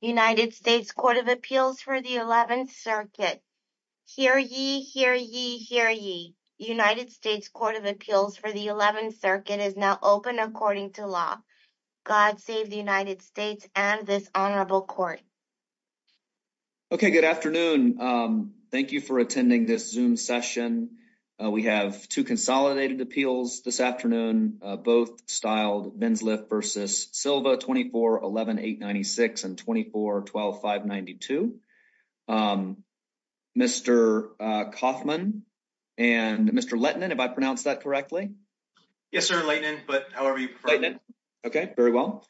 United States Court of Appeals for the 11th Circuit. Hear ye, hear ye, hear ye. United States Court of Appeals for the 11th Circuit is now open according to law. God save the United States and this honorable court. Okay, good afternoon. Thank you for attending this zoom session. We have 2 consolidated appeals this afternoon, both styled Ben's lift versus Silva, 24, 11, 896 and 24, 12, 592. Mr. Kauffman and Mr. Letnan, if I pronounce that correctly. Yes, sir. But however you prefer. Okay, very well.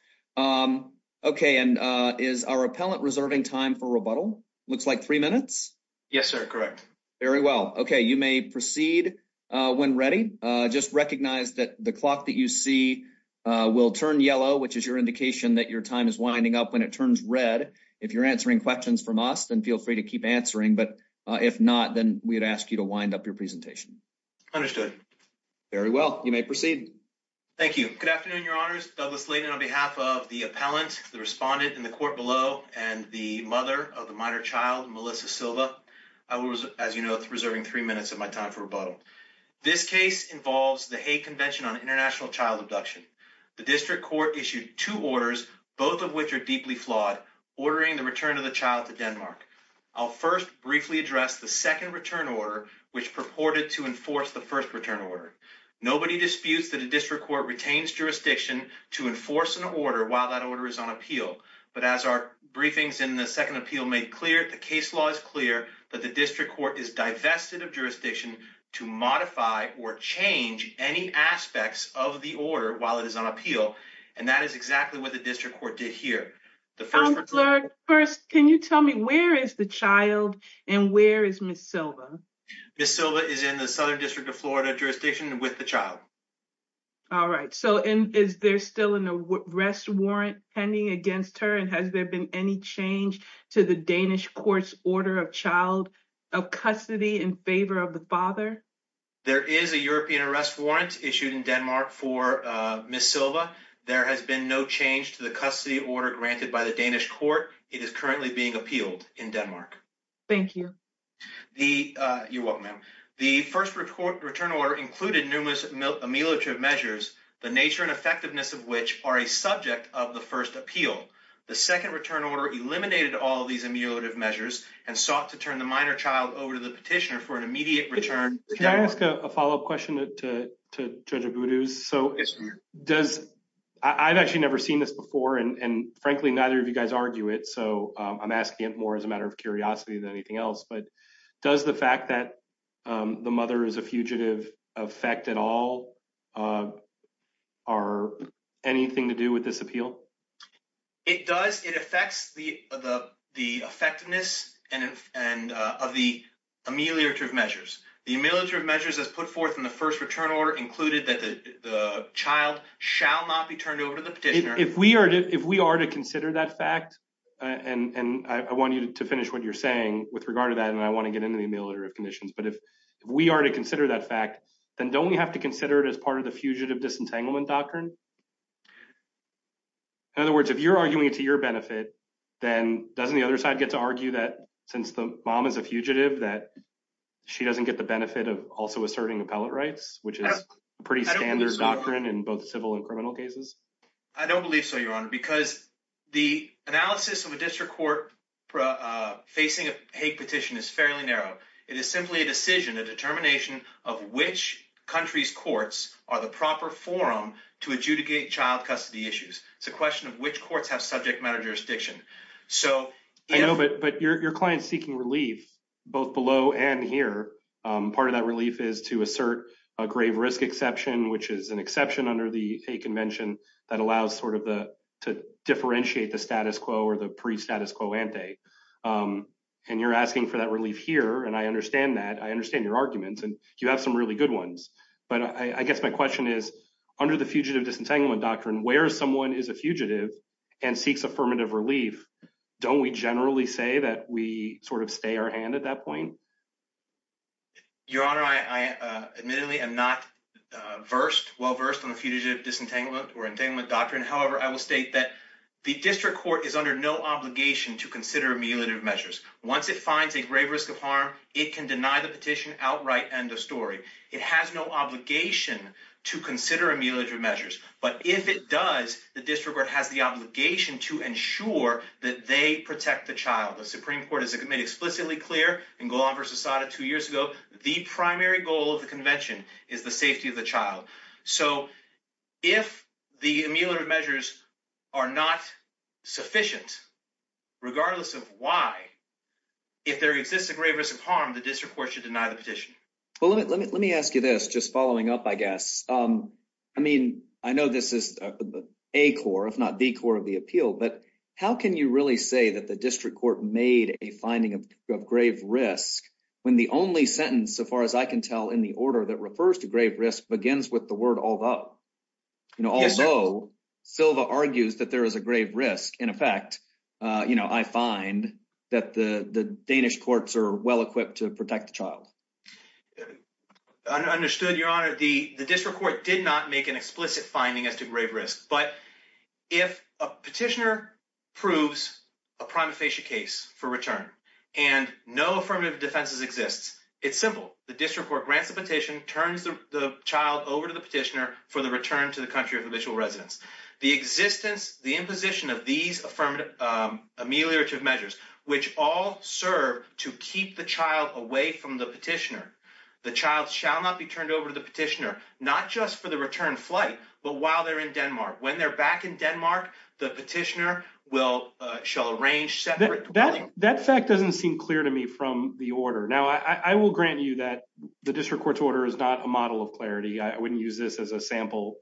Okay. And is our appellant reserving time for rebuttal? Looks like 3 minutes. Yes, sir. Correct. Very well. Okay. You may proceed when ready. Just recognize that the clock that you see will turn yellow, which is your indication that your time is winding up when it turns red. If you're answering questions from us, then feel free to keep answering. But if not, then we'd ask you to wind up your presentation. Understood. Very well. You may proceed. Thank you. Good afternoon. Your honors Douglas. The appellant, the respondent in the court below and the mother of the minor child, Melissa Silva. I was, as you know, it's reserving 3 minutes of my time for rebuttal. This case involves the convention on international child abduction. The district court issued 2 orders, both of which are deeply flawed, ordering the return of the child to Denmark. I'll first briefly address the 2nd return order, which purported to enforce the 1st return order. Nobody disputes that a district court retains jurisdiction to enforce an order while that order is on appeal. But as our briefings in the 2nd appeal made clear, the case law is clear that the district court is divested of jurisdiction to modify or change any aspects of the order while it is on appeal. And that is exactly what the district court did here. First, can you tell me where is the child and where is Miss Silva? Miss Silva is in the Southern District of Florida jurisdiction with the child. All right. So is there still an arrest warrant pending against her? And has there been any change to the Danish courts order of child of custody in favor of the father? There is a European arrest warrant issued in Denmark for Miss Silva. There has been no change to the custody order granted by the Danish court. It is currently being appealed in Denmark. Thank you. You're welcome, ma'am. The 1st return order included numerous ameliorative measures, the nature and effectiveness of which are a subject of the 1st appeal. The 2nd return order eliminated all of these ameliorative measures and sought to turn the minor child over to the petitioner for an immediate return. Can I ask a follow up question to Judge Abudu? So does I've actually never seen this before. And frankly, neither of you guys argue it. So I'm asking it more as a matter of curiosity than anything else. But does the fact that the mother is a fugitive effect at all are anything to do with this appeal? It does. It affects the the effectiveness and of the ameliorative measures. The ameliorative measures as put forth in the 1st return order included that the child shall not be turned over to the petitioner. If we are to if we are to consider that fact, and I want you to finish what you're saying with regard to that, and I want to get into the ameliorative conditions. But if we are to consider that fact, then don't we have to consider it as part of the fugitive disentanglement doctrine? In other words, if you're arguing to your benefit, then doesn't the other side get to argue that since the mom is a fugitive, that she doesn't get the benefit of also asserting appellate rights, which is pretty standard doctrine in both civil and criminal cases? I don't believe so, Your Honor, because the analysis of a district court facing a petition is fairly narrow. It is simply a decision, a determination of which country's courts are the proper forum to adjudicate child custody issues. It's a question of which courts have subject matter jurisdiction. I know, but your client's seeking relief both below and here. Part of that relief is to assert a grave risk exception, which is an exception under the convention that allows sort of to differentiate the status quo or the pre-status quo ante. And you're asking for that relief here, and I understand that. I understand your arguments, and you have some really good ones. But I guess my question is, under the fugitive disentanglement doctrine, where someone is a fugitive and seeks affirmative relief, don't we generally say that we sort of stay our hand at that point? Your Honor, I admittedly am not versed, well versed, on the fugitive disentanglement or entanglement doctrine. However, I will state that the district court is under no obligation to consider mutilative measures. Once it finds a grave risk of harm, it can deny the petition outright end of story. It has no obligation to consider mutilative measures. But if it does, the district court has the obligation to ensure that they protect the child. The Supreme Court has made explicitly clear in Golan v. Assata two years ago, the primary goal of the convention is the safety of the child. So if the mutilative measures are not sufficient, regardless of why, if there exists a grave risk of harm, the district court should deny the petition. Well, let me ask you this, just following up, I guess. I mean, I know this is a core, if not the core of the appeal. But how can you really say that the district court made a finding of grave risk when the only sentence, so far as I can tell, in the order that refers to grave risk begins with the word although? Although Silva argues that there is a grave risk. In effect, you know, I find that the Danish courts are well equipped to protect the child. Understood, Your Honor. The district court did not make an explicit finding as to grave risk. But if a petitioner proves a prima facie case for return and no affirmative defenses exists, it's simple. The district court grants the petition, turns the child over to the petitioner for the return to the country of initial residence. The existence, the imposition of these affirmative ameliorative measures, which all serve to keep the child away from the petitioner. The child shall not be turned over to the petitioner, not just for the return flight, but while they're in Denmark, when they're back in Denmark, the petitioner will shall arrange separate. That fact doesn't seem clear to me from the order. Now, I will grant you that the district court's order is not a model of clarity. I wouldn't use this as a sample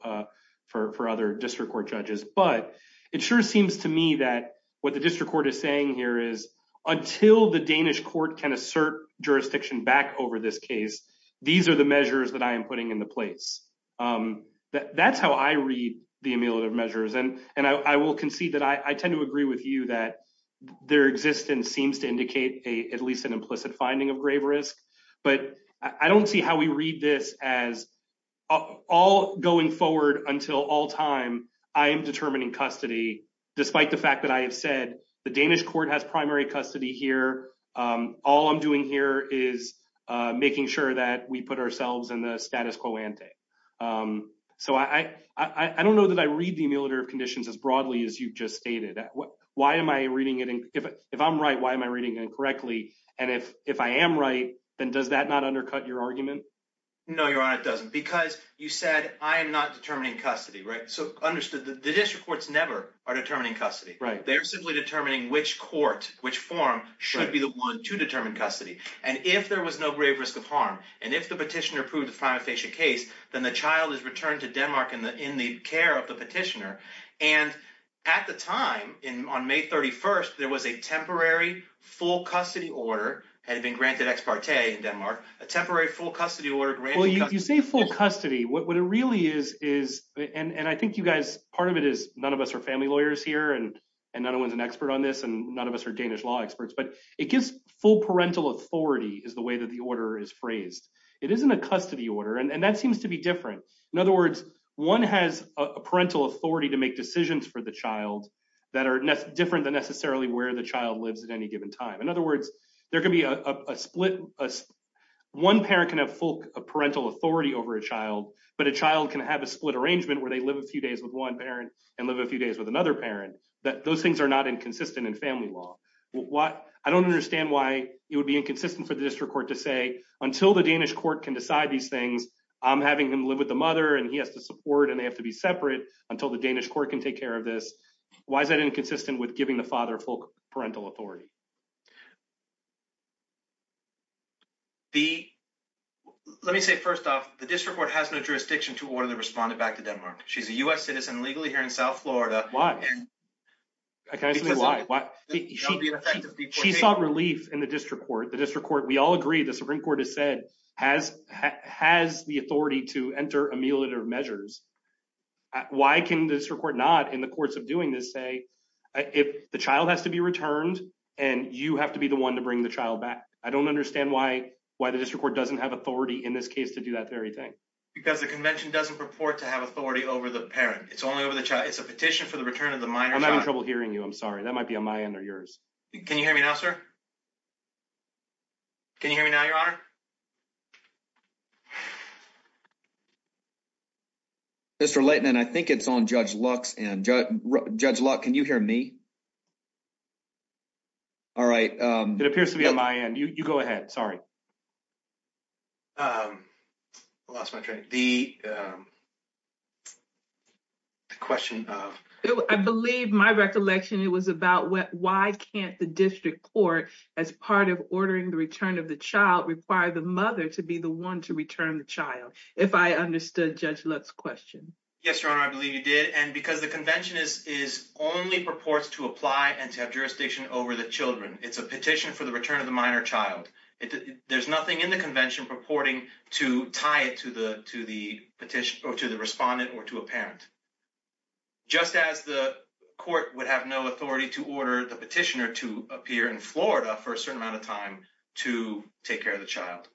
for other district court judges. But it sure seems to me that what the district court is saying here is until the Danish court can assert jurisdiction back over this case. These are the measures that I am putting in the place. That's how I read the ameliorative measures. And I will concede that I tend to agree with you that their existence seems to indicate at least an implicit finding of grave risk. But I don't see how we read this as all going forward until all time. I am determining custody, despite the fact that I have said the Danish court has primary custody here. All I'm doing here is making sure that we put ourselves in the status quo ante. So I don't know that I read the ameliorative conditions as broadly as you've just stated. Why am I reading it? If I'm right, why am I reading it correctly? And if if I am right, then does that not undercut your argument? No, your honor, it doesn't. Because you said I am not determining custody. Right. So understood that the district courts never are determining custody. Right. They're simply determining which court, which form should be the one to determine custody. And if there was no grave risk of harm and if the petitioner approved the final patient case, then the child is returned to Denmark in the in the care of the petitioner. And at the time in on May 31st, there was a temporary full custody order had been granted ex parte in Denmark, a temporary full custody order. Well, you say full custody. What it really is, is. And I think you guys, part of it is none of us are family lawyers here and no one's an expert on this. And none of us are Danish law experts, but it gives full parental authority is the way that the order is phrased. It isn't a custody order. And that seems to be different. In other words, one has a parental authority to make decisions for the child that are different than necessarily where the child lives at any given time. In other words, there can be a split. One parent can have full parental authority over a child. But a child can have a split arrangement where they live a few days with one parent and live a few days with another parent that those things are not inconsistent in family law. I don't understand why it would be inconsistent for the district court to say until the Danish court can decide these things. I'm having him live with the mother and he has to support and they have to be separate until the Danish court can take care of this. Why is that inconsistent with giving the father full parental authority? The let me say, first off, the district court has no jurisdiction to order the respondent back to Denmark. She's a U.S. citizen legally here in South Florida. Why? I can't say why. Why? She sought relief in the district court. The district court. We all agree. The Supreme Court has said has has the authority to enter ameliorative measures. Why can this report not in the courts of doing this say if the child has to be returned and you have to be the one to bring the child back? I don't understand why. Why the district court doesn't have authority in this case to do that very thing. Because the convention doesn't purport to have authority over the parent. It's only over the child. It's a petition for the return of the minor. I'm having trouble hearing you. I'm sorry. That might be on my end or yours. Can you hear me now, sir? Can you hear me now, your honor? Mr. Layton, and I think it's on Judge Lux and Judge Luck, can you hear me? All right. It appears to be on my end. You go ahead. Sorry. I lost my train. The question, I believe my recollection. It was about why can't the district court, as part of ordering the return of the child, require the mother to be the one to return the child? If I understood Judge Lux question. Yes, your honor. I believe you did. And because the convention is is only purports to apply and to have jurisdiction over the children. It's a petition for the return of the minor child. There's nothing in the convention purporting to tie it to the to the petition or to the respondent or to a parent. Just as the court would have no authority to order the petitioner to appear in Florida for a certain amount of time to take care of the child.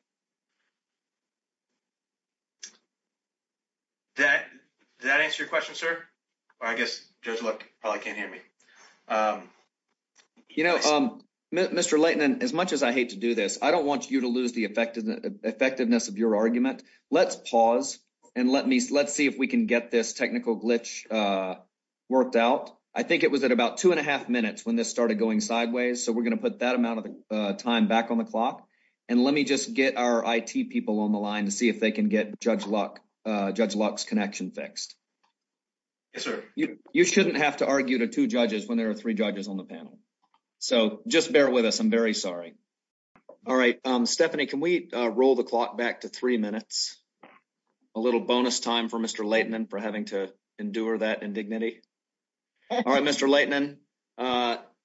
That that answer your question, sir, I guess probably can't hear me. You know, Mr. Layton, as much as I hate to do this, I don't want you to lose the effectiveness of your argument. Let's pause and let me let's see if we can get this technical glitch worked out. I think it was at about two and a half minutes when this started going sideways. So we're going to put that amount of time back on the clock. And let me just get our I.T. people on the line to see if they can get Judge Luck Judge Lux connection fixed. Yes, sir. You shouldn't have to argue to two judges when there are three judges on the panel. So just bear with us. I'm very sorry. All right. Stephanie, can we roll the clock back to three minutes? A little bonus time for Mr. Layton and for having to endure that indignity. All right, Mr. Layton,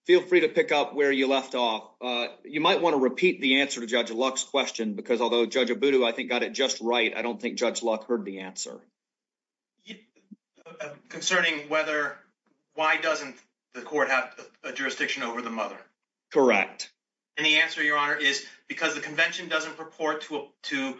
feel free to pick up where you left off. You might want to repeat the answer to Judge Lux question, because although Judge Abudu, I think, got it just right. I don't think Judge Luck heard the answer. Concerning whether why doesn't the court have a jurisdiction over the mother? Correct. And the answer, Your Honor, is because the convention doesn't purport to to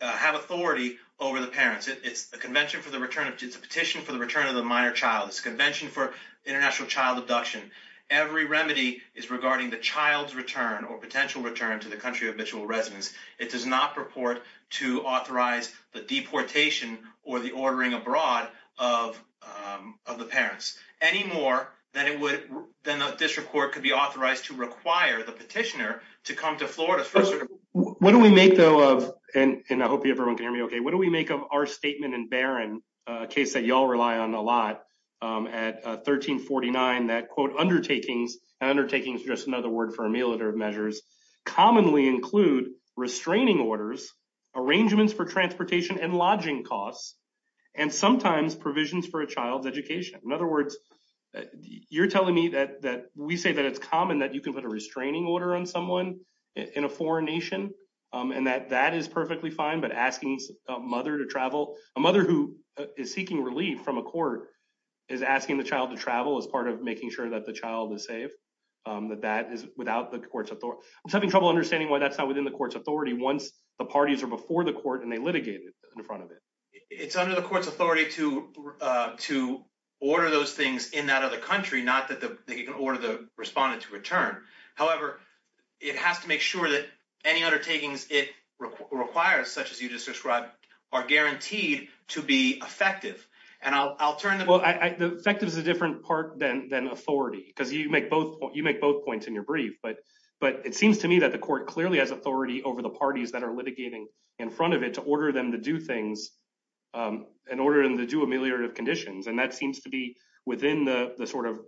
have authority over the parents. It's a convention for the return. It's a petition for the return of the minor child. It's a convention for international child abduction. Every remedy is regarding the child's return or potential return to the country of habitual residence. It does not purport to authorize the deportation or the ordering abroad of of the parents any more than it would. Then this report could be authorized to require the petitioner to come to Florida. What do we make, though, of and I hope everyone can hear me OK, what do we make of our statement in Barron case that you all rely on a lot at 1349 that, quote, undertakings and undertakings? Just another word for a military measures commonly include restraining orders, arrangements for transportation and lodging costs, and sometimes provisions for a child's education. In other words, you're telling me that that we say that it's common that you can put a restraining order on someone in a foreign nation and that that is perfectly fine. But asking a mother to travel, a mother who is seeking relief from a court is asking the child to travel as part of making sure that the child is safe, that that is without the court's authority. I'm having trouble understanding why that's not within the court's authority once the parties are before the court and they litigated in front of it. It's under the court's authority to to order those things in that other country, not that they can order the respondent to return. However, it has to make sure that any undertakings it requires, such as you just described, are guaranteed to be effective and alternative. Well, I think there's a different part than than authority because you make both you make both points in your brief. But but it seems to me that the court clearly has authority over the parties that are litigating in front of it to order them to do things in order to do ameliorative conditions. And that seems to be within the sort of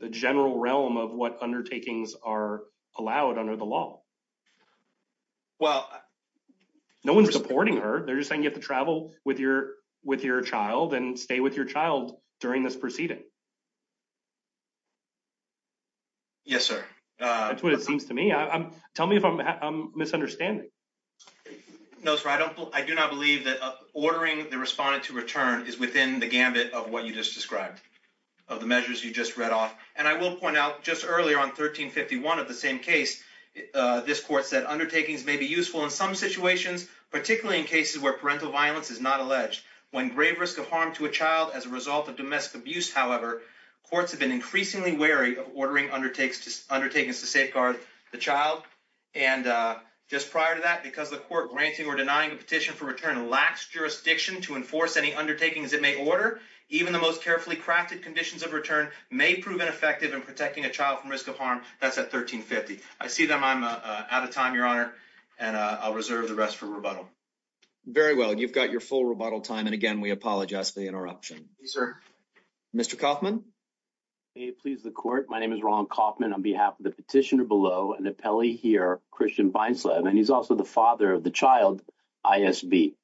the general realm of what undertakings are allowed under the law. Well, no one's supporting her. They're just saying you have to travel with your with your child and stay with your child during this proceeding. Yes, sir. That's what it seems to me. Tell me if I'm misunderstanding. No, sir. I don't. I do not believe that ordering the respondent to return is within the gambit of what you just described of the measures you just read off. And I will point out just earlier on 1351 of the same case, this court said undertakings may be useful in some situations, particularly in cases where parental violence is not alleged. When grave risk of harm to a child as a result of domestic abuse, however, courts have been increasingly wary of ordering undertakings to safeguard the child. And just prior to that, because the court granting or denying a petition for return lacks jurisdiction to enforce any undertakings it may order. Even the most carefully crafted conditions of return may prove ineffective in protecting a child from risk of harm. That's at 1350. I see them. I'm out of time, Your Honor, and I'll reserve the rest for rebuttal. Very well. You've got your full rebuttal time. And again, we apologize for the interruption, sir. Mr. Kaufman, please. The court. My name is Ron Kaufman on behalf of the petitioner below and the Pele here. And he's also the father of the child ISB.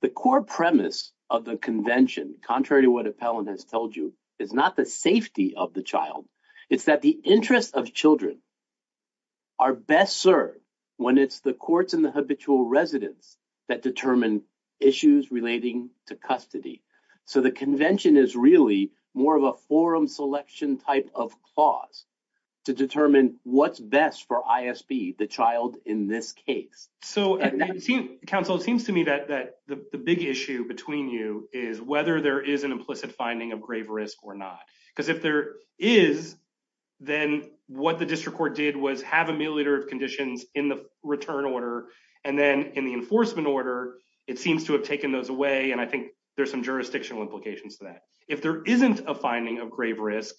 The core premise of the convention, contrary to what Appellant has told you, is not the safety of the child. It's that the interests of children. Are best served when it's the courts and the habitual residents that determine issues relating to custody. So the convention is really more of a forum selection type of clause to determine what's best for ISB, the child in this case. So council seems to me that the big issue between you is whether there is an implicit finding of grave risk or not. Because if there is, then what the district court did was have a milliliter of conditions in the return order. And then in the enforcement order, it seems to have taken those away. And I think there's some jurisdictional implications to that. If there isn't a finding of grave risk,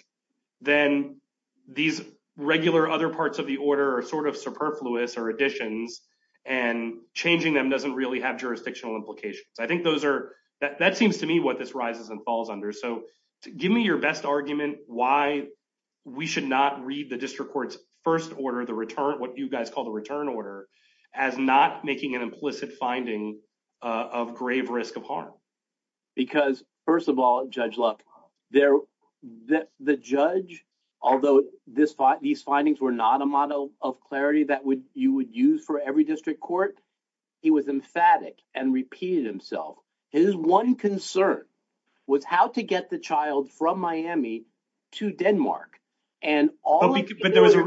then these regular other parts of the order are sort of superfluous or additions and changing them doesn't really have jurisdictional implications. I think those are that seems to me what this rises and falls under. Give me your best argument why we should not read the district court's first order, the return, what you guys call the return order, as not making an implicit finding of grave risk of harm. Because, first of all, Judge Luck, the judge, although these findings were not a model of clarity that you would use for every district court, he was emphatic and repeated himself. His one concern was how to get the child from Miami to Denmark. But there was a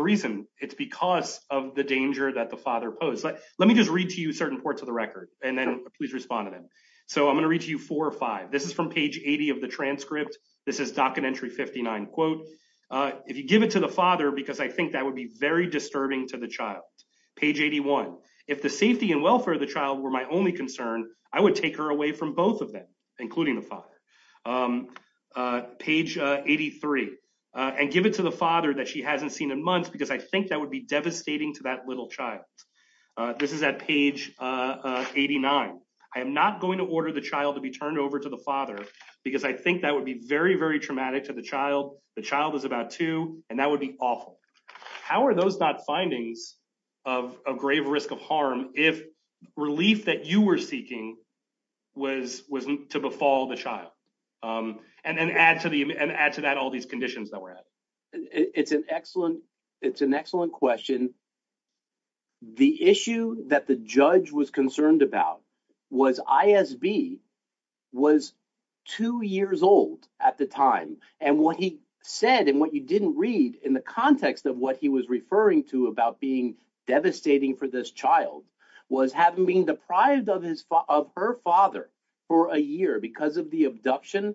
reason. It's because of the danger that the father posed. Let me just read to you certain parts of the record and then please respond to them. So I'm going to read to you four or five. This is from page 80 of the transcript. This is docket entry 59 quote. If you give it to the father, because I think that would be very disturbing to the child. Page 81. If the safety and welfare of the child were my only concern, I would take her away from both of them, including the father. Page 83 and give it to the father that she hasn't seen in months because I think that would be devastating to that little child. This is at page 89. I am not going to order the child to be turned over to the father, because I think that would be very, very traumatic to the child. The child is about two and that would be awful. How are those not findings of a grave risk of harm? If relief that you were seeking was wasn't to befall the child and then add to the and add to that all these conditions that we're at. It's an excellent it's an excellent question. The issue that the judge was concerned about was ISB was two years old at the time. And what he said and what you didn't read in the context of what he was referring to about being devastating for this child was having been deprived of his of her father for a year because of the abduction.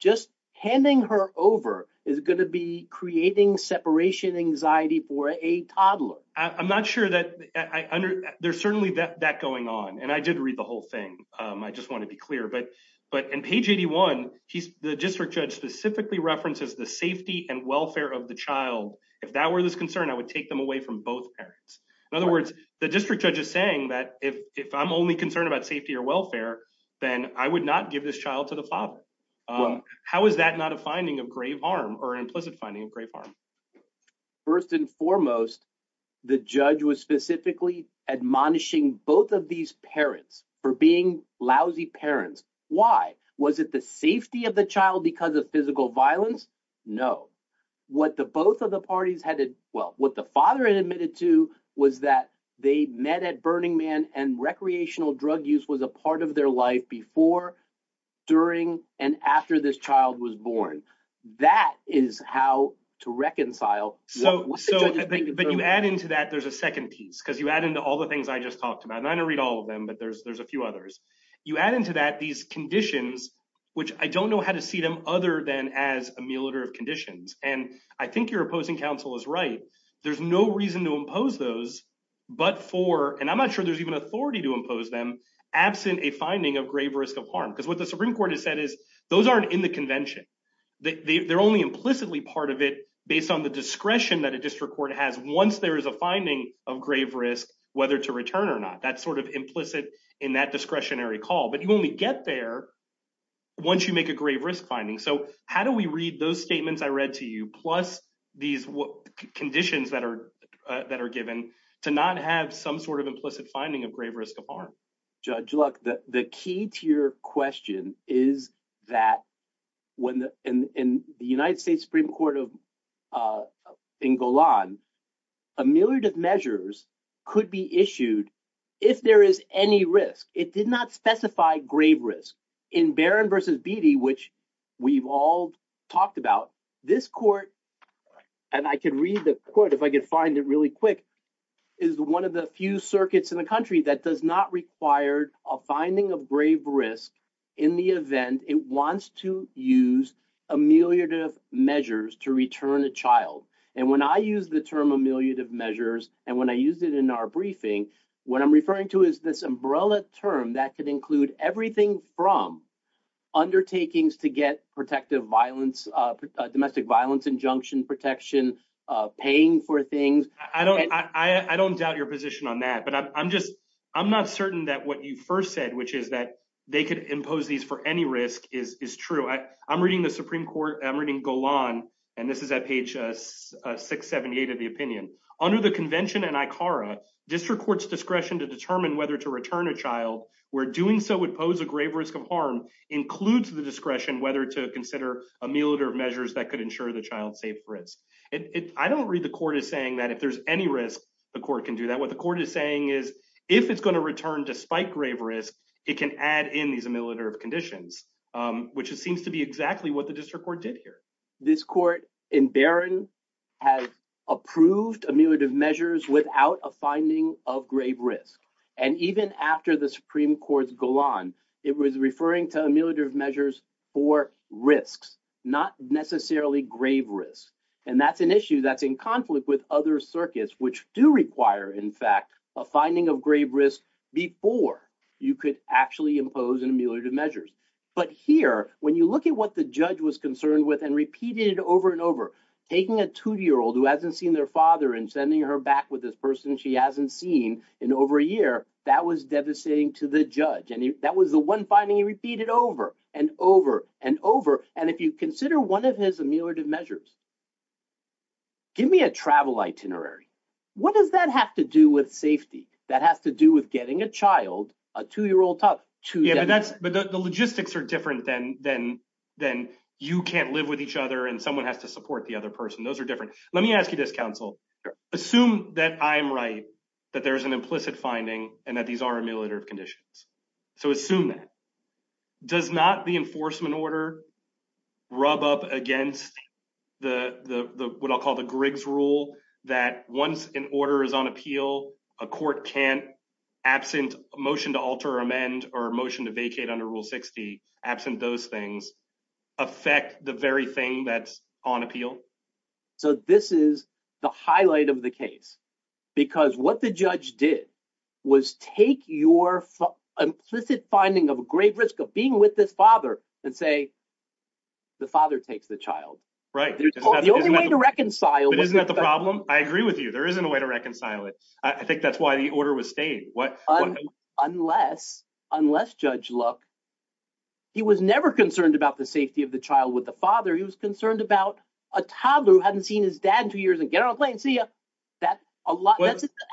Just handing her over is going to be creating separation anxiety for a toddler. I'm not sure that there's certainly that going on. And I did read the whole thing. I just want to be clear. But but in page 81, he's the district judge specifically references the safety and welfare of the child. If that were this concern, I would take them away from both parents. In other words, the district judge is saying that if if I'm only concerned about safety or welfare, then I would not give this child to the father. How is that not a finding of grave harm or implicit finding of grave harm? First and foremost, the judge was specifically admonishing both of these parents for being lousy parents. Why was it the safety of the child because of physical violence? No. What the both of the parties had. Well, what the father admitted to was that they met at Burning Man and recreational drug use was a part of their life before, during and after this child was born. That is how to reconcile. So. So you add into that, there's a second piece because you add into all the things I just talked about. And I don't read all of them, but there's there's a few others you add into that these conditions which I don't know how to see them other than as a military conditions. And I think you're opposing counsel is right. There's no reason to impose those. But for and I'm not sure there's even authority to impose them absent a finding of grave risk of harm, because what the Supreme Court has said is those aren't in the convention. They're only implicitly part of it based on the discretion that a district court has. Once there is a finding of grave risk, whether to return or not, that's sort of implicit in that discretionary call. But you only get there once you make a grave risk finding. So how do we read those statements I read to you, plus these conditions that are that are given to not have some sort of implicit finding of grave risk of harm? Judge Luck, the key to your question is that when in the United States Supreme Court of England, a myriad of measures could be issued if there is any risk. It did not specify grave risk in Baron versus Beatty, which we've all talked about this court. And I can read the court if I could find it really quick is one of the few circuits in the country that does not require a finding of grave risk in the event it wants to use a myriad of measures to return a child. And when I use the term a myriad of measures and when I used it in our briefing, what I'm referring to is this umbrella term that could include everything from undertakings to get protective violence, domestic violence, injunction protection, paying for things. I don't I don't doubt your position on that, but I'm just I'm not certain that what you first said, which is that they could impose these for any risk is true. I'm reading the Supreme Court. I'm reading Golan, and this is at page 678 of the opinion under the convention and ICARA district courts discretion to determine whether to return a child. We're doing so would pose a grave risk of harm includes the discretion whether to consider a myriad of measures that could ensure the child safe risk. I don't read the court is saying that if there's any risk, the court can do that. What the court is saying is, if it's going to return to spike grave risk, it can add in these conditions, which seems to be exactly what the district court did here. This court in Baron has approved a myriad of measures without a finding of grave risk. And even after the Supreme Court's Golan, it was referring to a myriad of measures for risks, not necessarily grave risk. And that's an issue that's in conflict with other circuits, which do require, in fact, a finding of grave risk before you could actually impose a myriad of measures. But here, when you look at what the judge was concerned with and repeated over and over, taking a two-year-old who hasn't seen their father and sending her back with this person she hasn't seen in over a year, that was devastating to the judge. And that was the one finding he repeated over and over and over. And if you consider one of his ameliorative measures, give me a travel itinerary. What does that have to do with safety? That has to do with getting a child, a two-year-old toddler. But the logistics are different than you can't live with each other and someone has to support the other person. Those are different. Let me ask you this, counsel. Assume that I'm right, that there's an implicit finding, and that these are ameliorative conditions. So assume that. Does not the enforcement order rub up against what I'll call the Griggs rule that once an order is on appeal, a court can't, absent a motion to alter or amend or a motion to vacate under Rule 60, absent those things, affect the very thing that's on appeal? So this is the highlight of the case. Because what the judge did was take your implicit finding of a grave risk of being with this father and say, the father takes the child. Right. The only way to reconcile. Isn't that the problem? I agree with you. There isn't a way to reconcile it. I think that's why the order was staying. Unless, unless Judge Luck, he was never concerned about the safety of the child with the father. He was concerned about a toddler who hadn't seen his dad in two years and get on a plane and see ya. That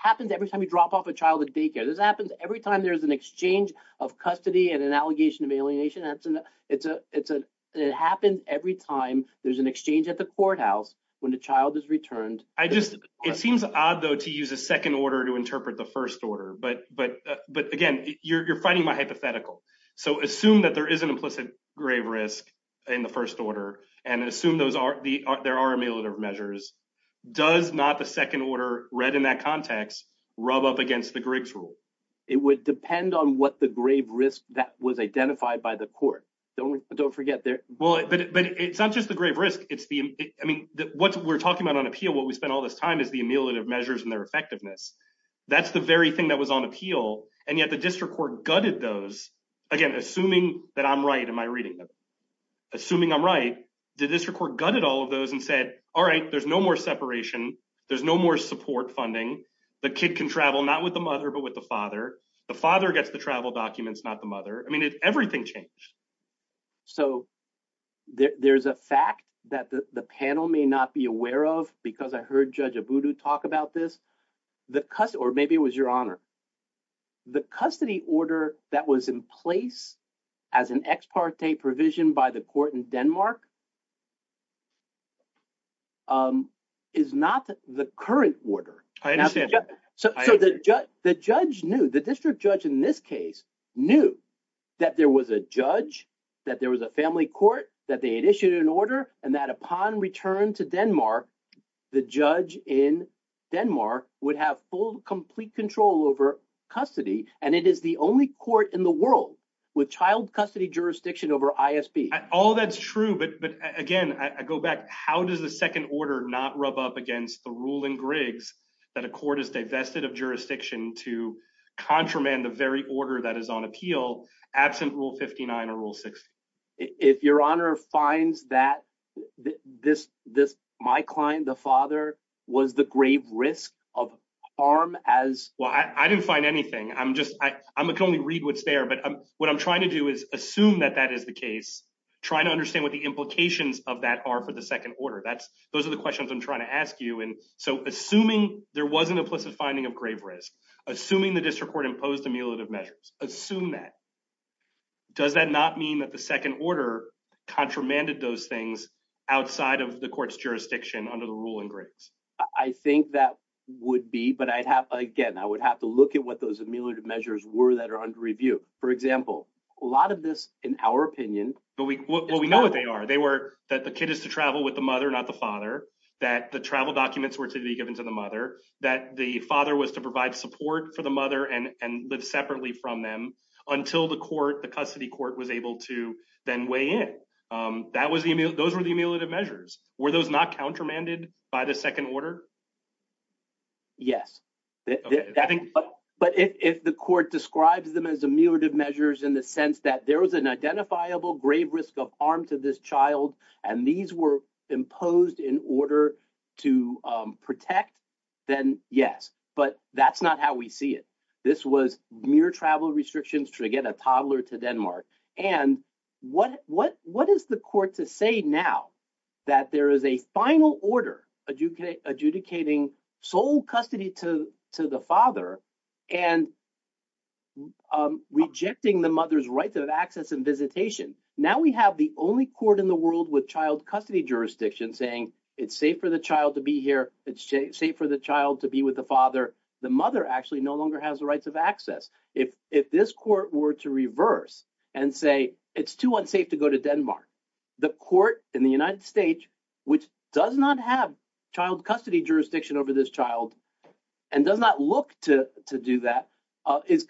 happens every time you drop off a child at daycare. This happens every time there's an exchange of custody and an allegation of alienation. It happens every time there's an exchange at the courthouse when the child is returned. It seems odd, though, to use a second order to interpret the first order. But again, you're fighting my hypothetical. So assume that there is an implicit grave risk in the first order and assume there are ameliorative measures. Does not the second order read in that context rub up against the Griggs rule? It would depend on what the grave risk that was identified by the court. Don't forget there. Well, but it's not just the grave risk. It's the I mean, what we're talking about on appeal, what we spent all this time is the ameliorative measures and their effectiveness. That's the very thing that was on appeal. And yet the district court gutted those again, assuming that I'm right in my reading. Assuming I'm right, the district court gutted all of those and said, all right, there's no more separation. There's no more support funding. The kid can travel not with the mother, but with the father. The father gets the travel documents, not the mother. I mean, everything changed. So there's a fact that the panel may not be aware of because I heard Judge Abudu talk about this. The or maybe it was your honor. The custody order that was in place as an ex parte provision by the court in Denmark. Is not the current order. I understand. So the judge knew the district judge in this case knew that there was a judge, that there was a family court, that they had issued an order. And that upon return to Denmark, the judge in Denmark would have full, complete control over custody. And it is the only court in the world with child custody jurisdiction over ISB. All that's true. But again, I go back. How does the second order not rub up against the rule in Griggs that a court is divested of jurisdiction to contramand the very order that is on appeal absent rule 59 or rule 60? If your honor finds that this this my client, the father was the grave risk of harm as. Well, I didn't find anything. I'm just I can only read what's there. But what I'm trying to do is assume that that is the case. Trying to understand what the implications of that are for the second order. That's those are the questions I'm trying to ask you. And so assuming there was an implicit finding of grave risk, assuming the district court imposed a mule of measures, assume that. Does that not mean that the second order contramanded those things outside of the court's jurisdiction under the ruling? I think that would be. But I'd have again, I would have to look at what those measures were that are under review. For example, a lot of this, in our opinion. But we know what they are. They were that the kid is to travel with the mother, not the father, that the travel documents were to be given to the mother, that the father was to provide support for the mother and live separately from them until the court, the custody court was able to then weigh in. Those were the measures. Were those not countermanded by the second order? Yes, I think. But if the court describes them as a mule of measures in the sense that there was an identifiable grave risk of harm to this child, and these were imposed in order to protect, then yes. But that's not how we see it. This was mere travel restrictions to get a toddler to Denmark. And what is the court to say now that there is a final order adjudicating sole custody to the father and rejecting the mother's rights of access and visitation? Now we have the only court in the world with child custody jurisdiction saying it's safe for the child to be here. It's safe for the child to be with the father. The mother actually no longer has the rights of access. If this court were to reverse and say it's too unsafe to go to Denmark, the court in the United States, which does not have child custody jurisdiction over this child and does not look to do that, is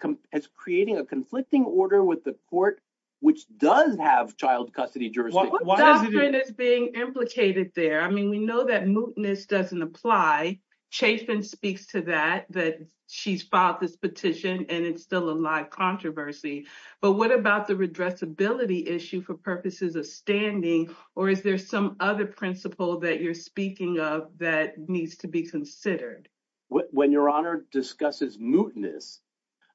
creating a conflicting order with the court, which does have child custody jurisdiction. What doctrine is being implicated there? I mean, we know that mootness doesn't apply. Chafin speaks to that, that she's filed this petition and it's still a live controversy. But what about the redressability issue for purposes of standing? Or is there some other principle that you're speaking of that needs to be considered? When Your Honor discusses mootness,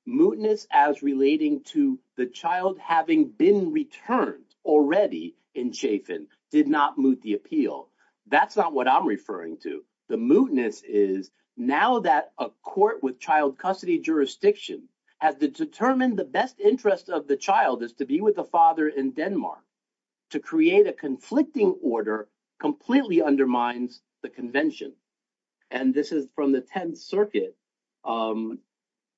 mootness as relating to the child having been returned already in Chafin did not moot the appeal. That's not what I'm referring to. The mootness is now that a court with child custody jurisdiction has determined the best interest of the child is to be with the father in Denmark. To create a conflicting order completely undermines the convention. And this is from the 10th Circuit.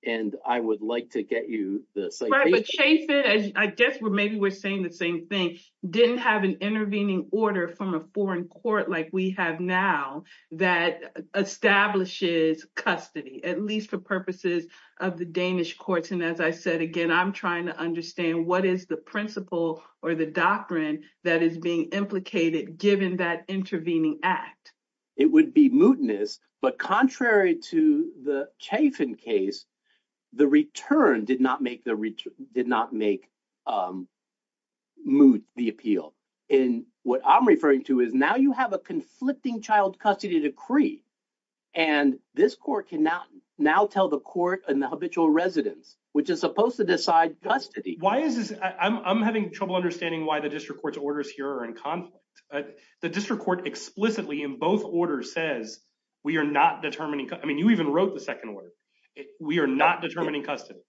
And I would like to get you the citation. I guess maybe we're saying the same thing. Didn't have an intervening order from a foreign court like we have now that establishes custody, at least for purposes of the Danish courts. And as I said, again, I'm trying to understand what is the principle or the doctrine that is being implicated, given that intervening act? It would be mootness, but contrary to the Chafin case, the return did not make moot the appeal. And what I'm referring to is now you have a conflicting child custody decree. And this court cannot now tell the court and the habitual residents, which is supposed to decide custody. Why is this? I'm having trouble understanding why the district court's orders here are in conflict. The district court explicitly in both orders says we are not determining. I mean, you even wrote the second word. We are not determining custody.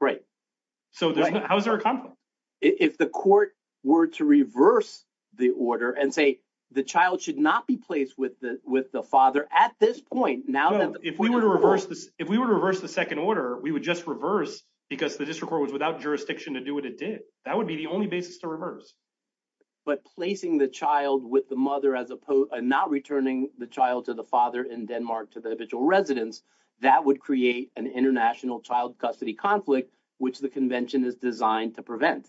Right. So how is there a conflict if the court were to reverse the order and say the child should not be placed with the with the father at this point? Now, if we were to reverse this, if we were to reverse the second order, we would just reverse because the district was without jurisdiction to do what it did. That would be the only basis to reverse. But placing the child with the mother as opposed to not returning the child to the father in Denmark to the habitual residents, that would create an international child custody conflict, which the convention is designed to prevent.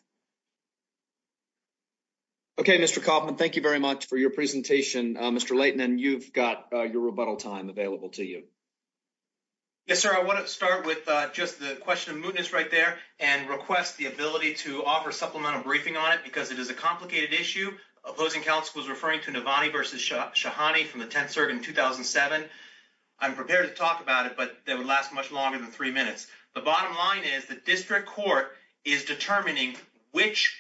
OK, Mr. Kaufman, thank you very much for your presentation, Mr. Layton, and you've got your rebuttal time available to you. Yes, sir, I want to start with just the question of mootness right there and request the ability to offer supplemental briefing on it because it is a complicated issue. Opposing counsel was referring to Navani versus Shahani from the 10th Circuit in 2007. I'm prepared to talk about it, but that would last much longer than three minutes. The bottom line is the district court is determining which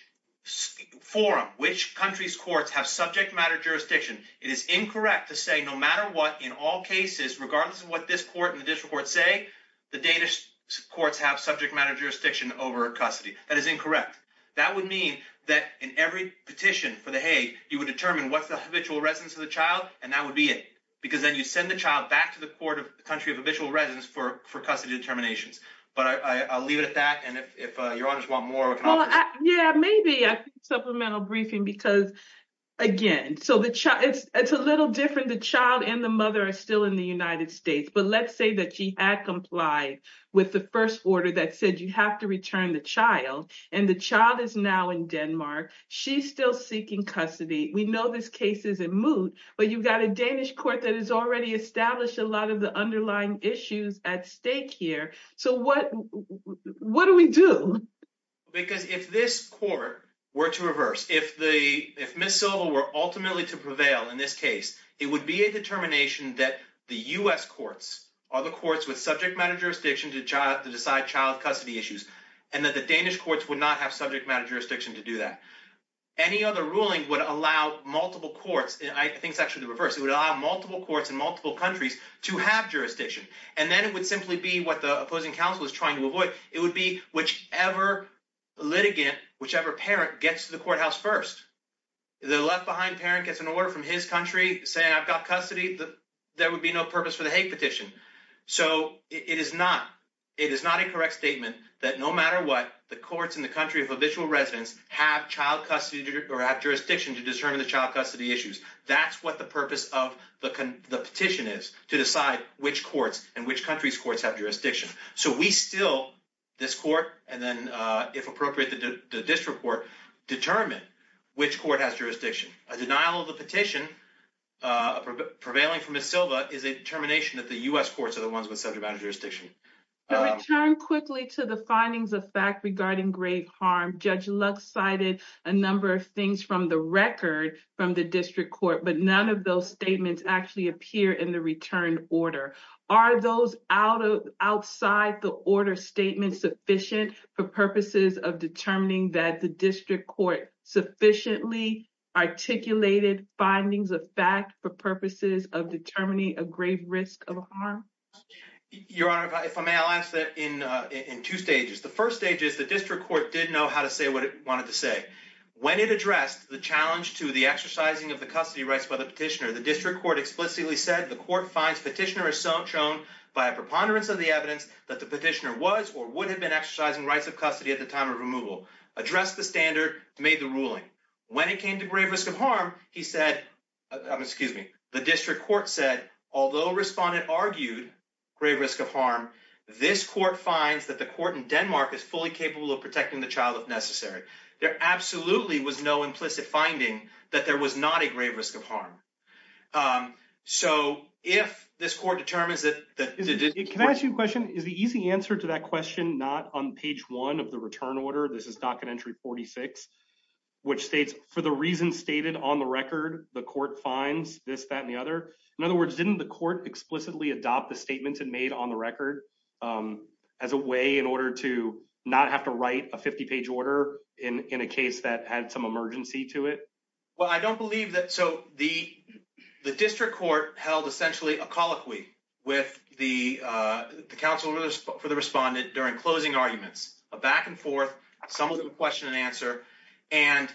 forum, which country's courts have subject matter jurisdiction. It is incorrect to say no matter what, in all cases, regardless of what this court and the district court say, the Danish courts have subject matter jurisdiction over custody. That is incorrect. That would mean that in every petition for the Hague, you would determine what's the habitual residence of the child. And that would be it, because then you send the child back to the court of the country of habitual residence for custody determinations. But I'll leave it at that. And if you want more. Yeah, maybe supplemental briefing, because, again, so it's a little different. The child and the mother are still in the United States. But let's say that she had complied with the first order that said you have to return the child and the child is now in Denmark. She's still seeking custody. We know this case is a moot, but you've got a Danish court that has already established a lot of the underlying issues at stake here. So what what do we do? Because if this court were to reverse, if the if Miss Silva were ultimately to prevail in this case, it would be a determination that the U.S. courts are the courts with subject matter jurisdiction to decide child custody issues and that the Danish courts would not have subject matter jurisdiction to do that. Any other ruling would allow multiple courts. I think it's actually the reverse. It would allow multiple courts in multiple countries to have jurisdiction. And then it would simply be what the opposing counsel is trying to avoid. It would be whichever litigant, whichever parent gets to the courthouse first. The left behind parent gets an order from his country saying, I've got custody. There would be no purpose for the Hague petition. So it is not it is not a correct statement that no matter what the courts in the country of habitual residence have child custody or have jurisdiction to determine the child custody issues. That's what the purpose of the petition is to decide which courts and which countries courts have jurisdiction. So we still this court and then, if appropriate, the district court determine which court has jurisdiction. A denial of the petition prevailing from Miss Silva is a determination that the U.S. courts are the ones with subject matter jurisdiction. Turn quickly to the findings of fact regarding great harm. Judge Lux cited a number of things from the record from the district court, but none of those statements actually appear in the return order. Are those out of outside the order statement sufficient for purposes of determining that the district court sufficiently articulated findings of fact for purposes of determining a grave risk of harm? Your Honor, if I may, I'll ask that in in two stages. The first stage is the district court didn't know how to say what it wanted to say when it addressed the challenge to the exercising of the custody rights by the petitioner. The district court explicitly said the court finds petitioner is so shown by a preponderance of the evidence that the petitioner was or would have been exercising rights of custody at the time of removal. Address the standard made the ruling when it came to grave risk of harm. He said, excuse me, the district court said, although respondent argued grave risk of harm. This court finds that the court in Denmark is fully capable of protecting the child if necessary. There absolutely was no implicit finding that there was not a grave risk of harm. So if this court determines that, can I ask you a question? Is the easy answer to that question not on page one of the return order? This is not an entry forty six, which states for the reason stated on the record, the court finds this that and the other. In other words, didn't the court explicitly adopt the statements and made on the record as a way in order to not have to write a 50 page order in a case that had some emergency to it? Well, I don't believe that. So the the district court held essentially a colloquy with the council for the respondent during closing arguments, a back and forth, some question and answer. And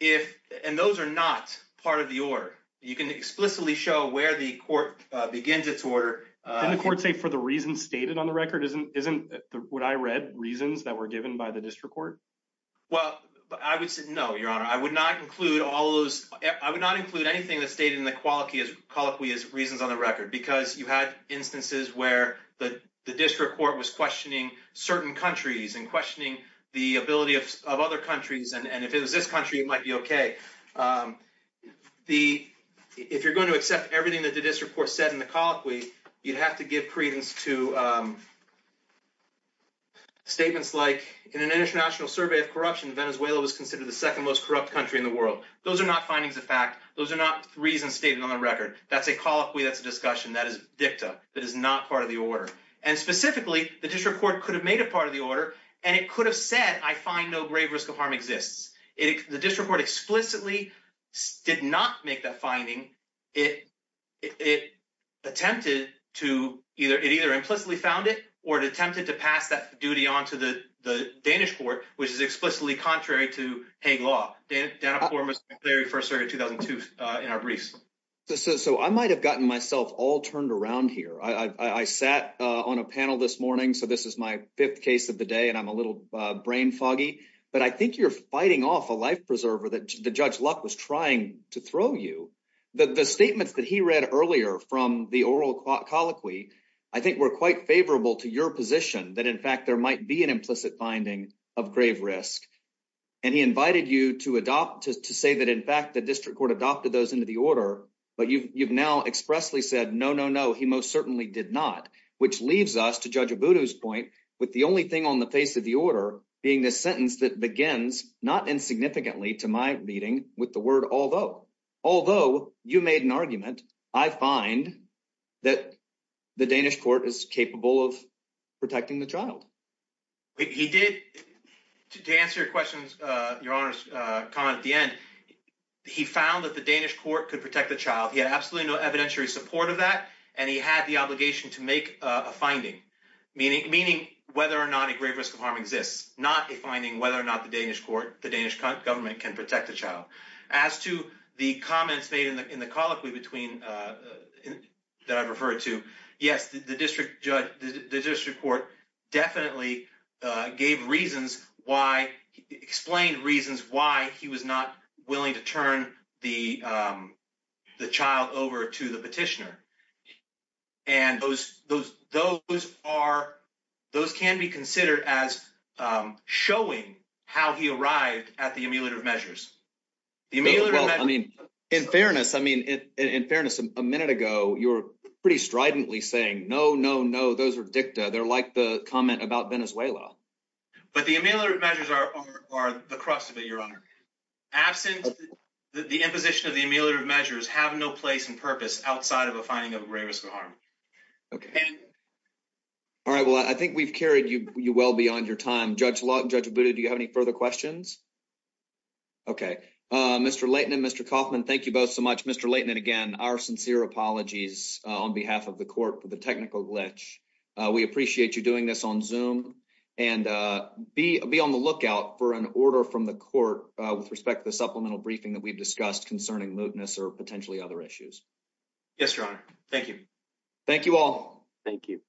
if and those are not part of the order, you can explicitly show where the court begins its order. The court, say, for the reason stated on the record, isn't isn't what I read reasons that were given by the district court. Well, I would say, no, your honor, I would not include all those. I would not include anything that's stated in the quality as colloquy as reasons on the record, because you had instances where the district court was questioning certain countries and questioning the ability of other countries. And if it was this country, it might be OK. The if you're going to accept everything that the district court said in the colloquy, you'd have to give credence to. Statements like in an international survey of corruption, Venezuela was considered the second most corrupt country in the world. Those are not findings of fact. Those are not reasons stated on the record. That's a call. We that's a discussion that is dicta that is not part of the order. And specifically, the district court could have made a part of the order and it could have said, I find no grave risk of harm exists. If the district court explicitly did not make that finding, it it attempted to either it either implicitly found it or attempted to pass that duty on to the Danish court, which is explicitly contrary to a law. So, I might have gotten myself all turned around here. I sat on a panel this morning. So this is my 5th case of the day and I'm a little brain foggy, but I think you're fighting off a life preserver that the judge luck was trying to throw you the statements that he read earlier from the oral colloquy. I think we're quite favorable to your position that, in fact, there might be an implicit finding of grave risk. And he invited you to adopt to say that, in fact, the district court adopted those into the order, but you've now expressly said, no, no, no, he most certainly did not, which leaves us to judge a Buddha's point with the only thing on the face of the order being this sentence that begins not in significantly to my meeting with the word. Although although you made an argument, I find that the Danish court is capable of protecting the child. He did to answer your questions, your honor's comment at the end. He found that the Danish court could protect the child. He had absolutely no evidentiary support of that. And he had the obligation to make a finding, meaning, meaning, whether or not a great risk of harm exists, not a finding, whether or not the Danish court, the Danish government can protect the child as to the comments made in the in the colloquy between that I've referred to. Yes, the district judge, the district court definitely gave reasons why explained reasons why he was not willing to turn the the child over to the petitioner. And those those those are those can be considered as showing how he arrived at the ameliorative measures. I mean, in fairness, I mean, in fairness, a minute ago, you're pretty stridently saying, no, no, no. Those are dicta. They're like the comment about Venezuela. But the ameliorative measures are are the crust of it. Your honor. Absent the imposition of the ameliorative measures have no place and purpose outside of a finding of a great risk of harm. Okay. All right. Well, I think we've carried you well beyond your time. Judge, judge Buddha. Do you have any further questions? Okay, Mr. Leighton and Mr. Kaufman, thank you both so much, Mr. Leighton. And again, our sincere apologies on behalf of the court for the technical glitch. We appreciate you doing this on zoom and be be on the lookout for an order from the court with respect to the supplemental briefing that we've discussed concerning mootness or potentially other issues. Yes, your honor. Thank you. Thank you all. Thank you.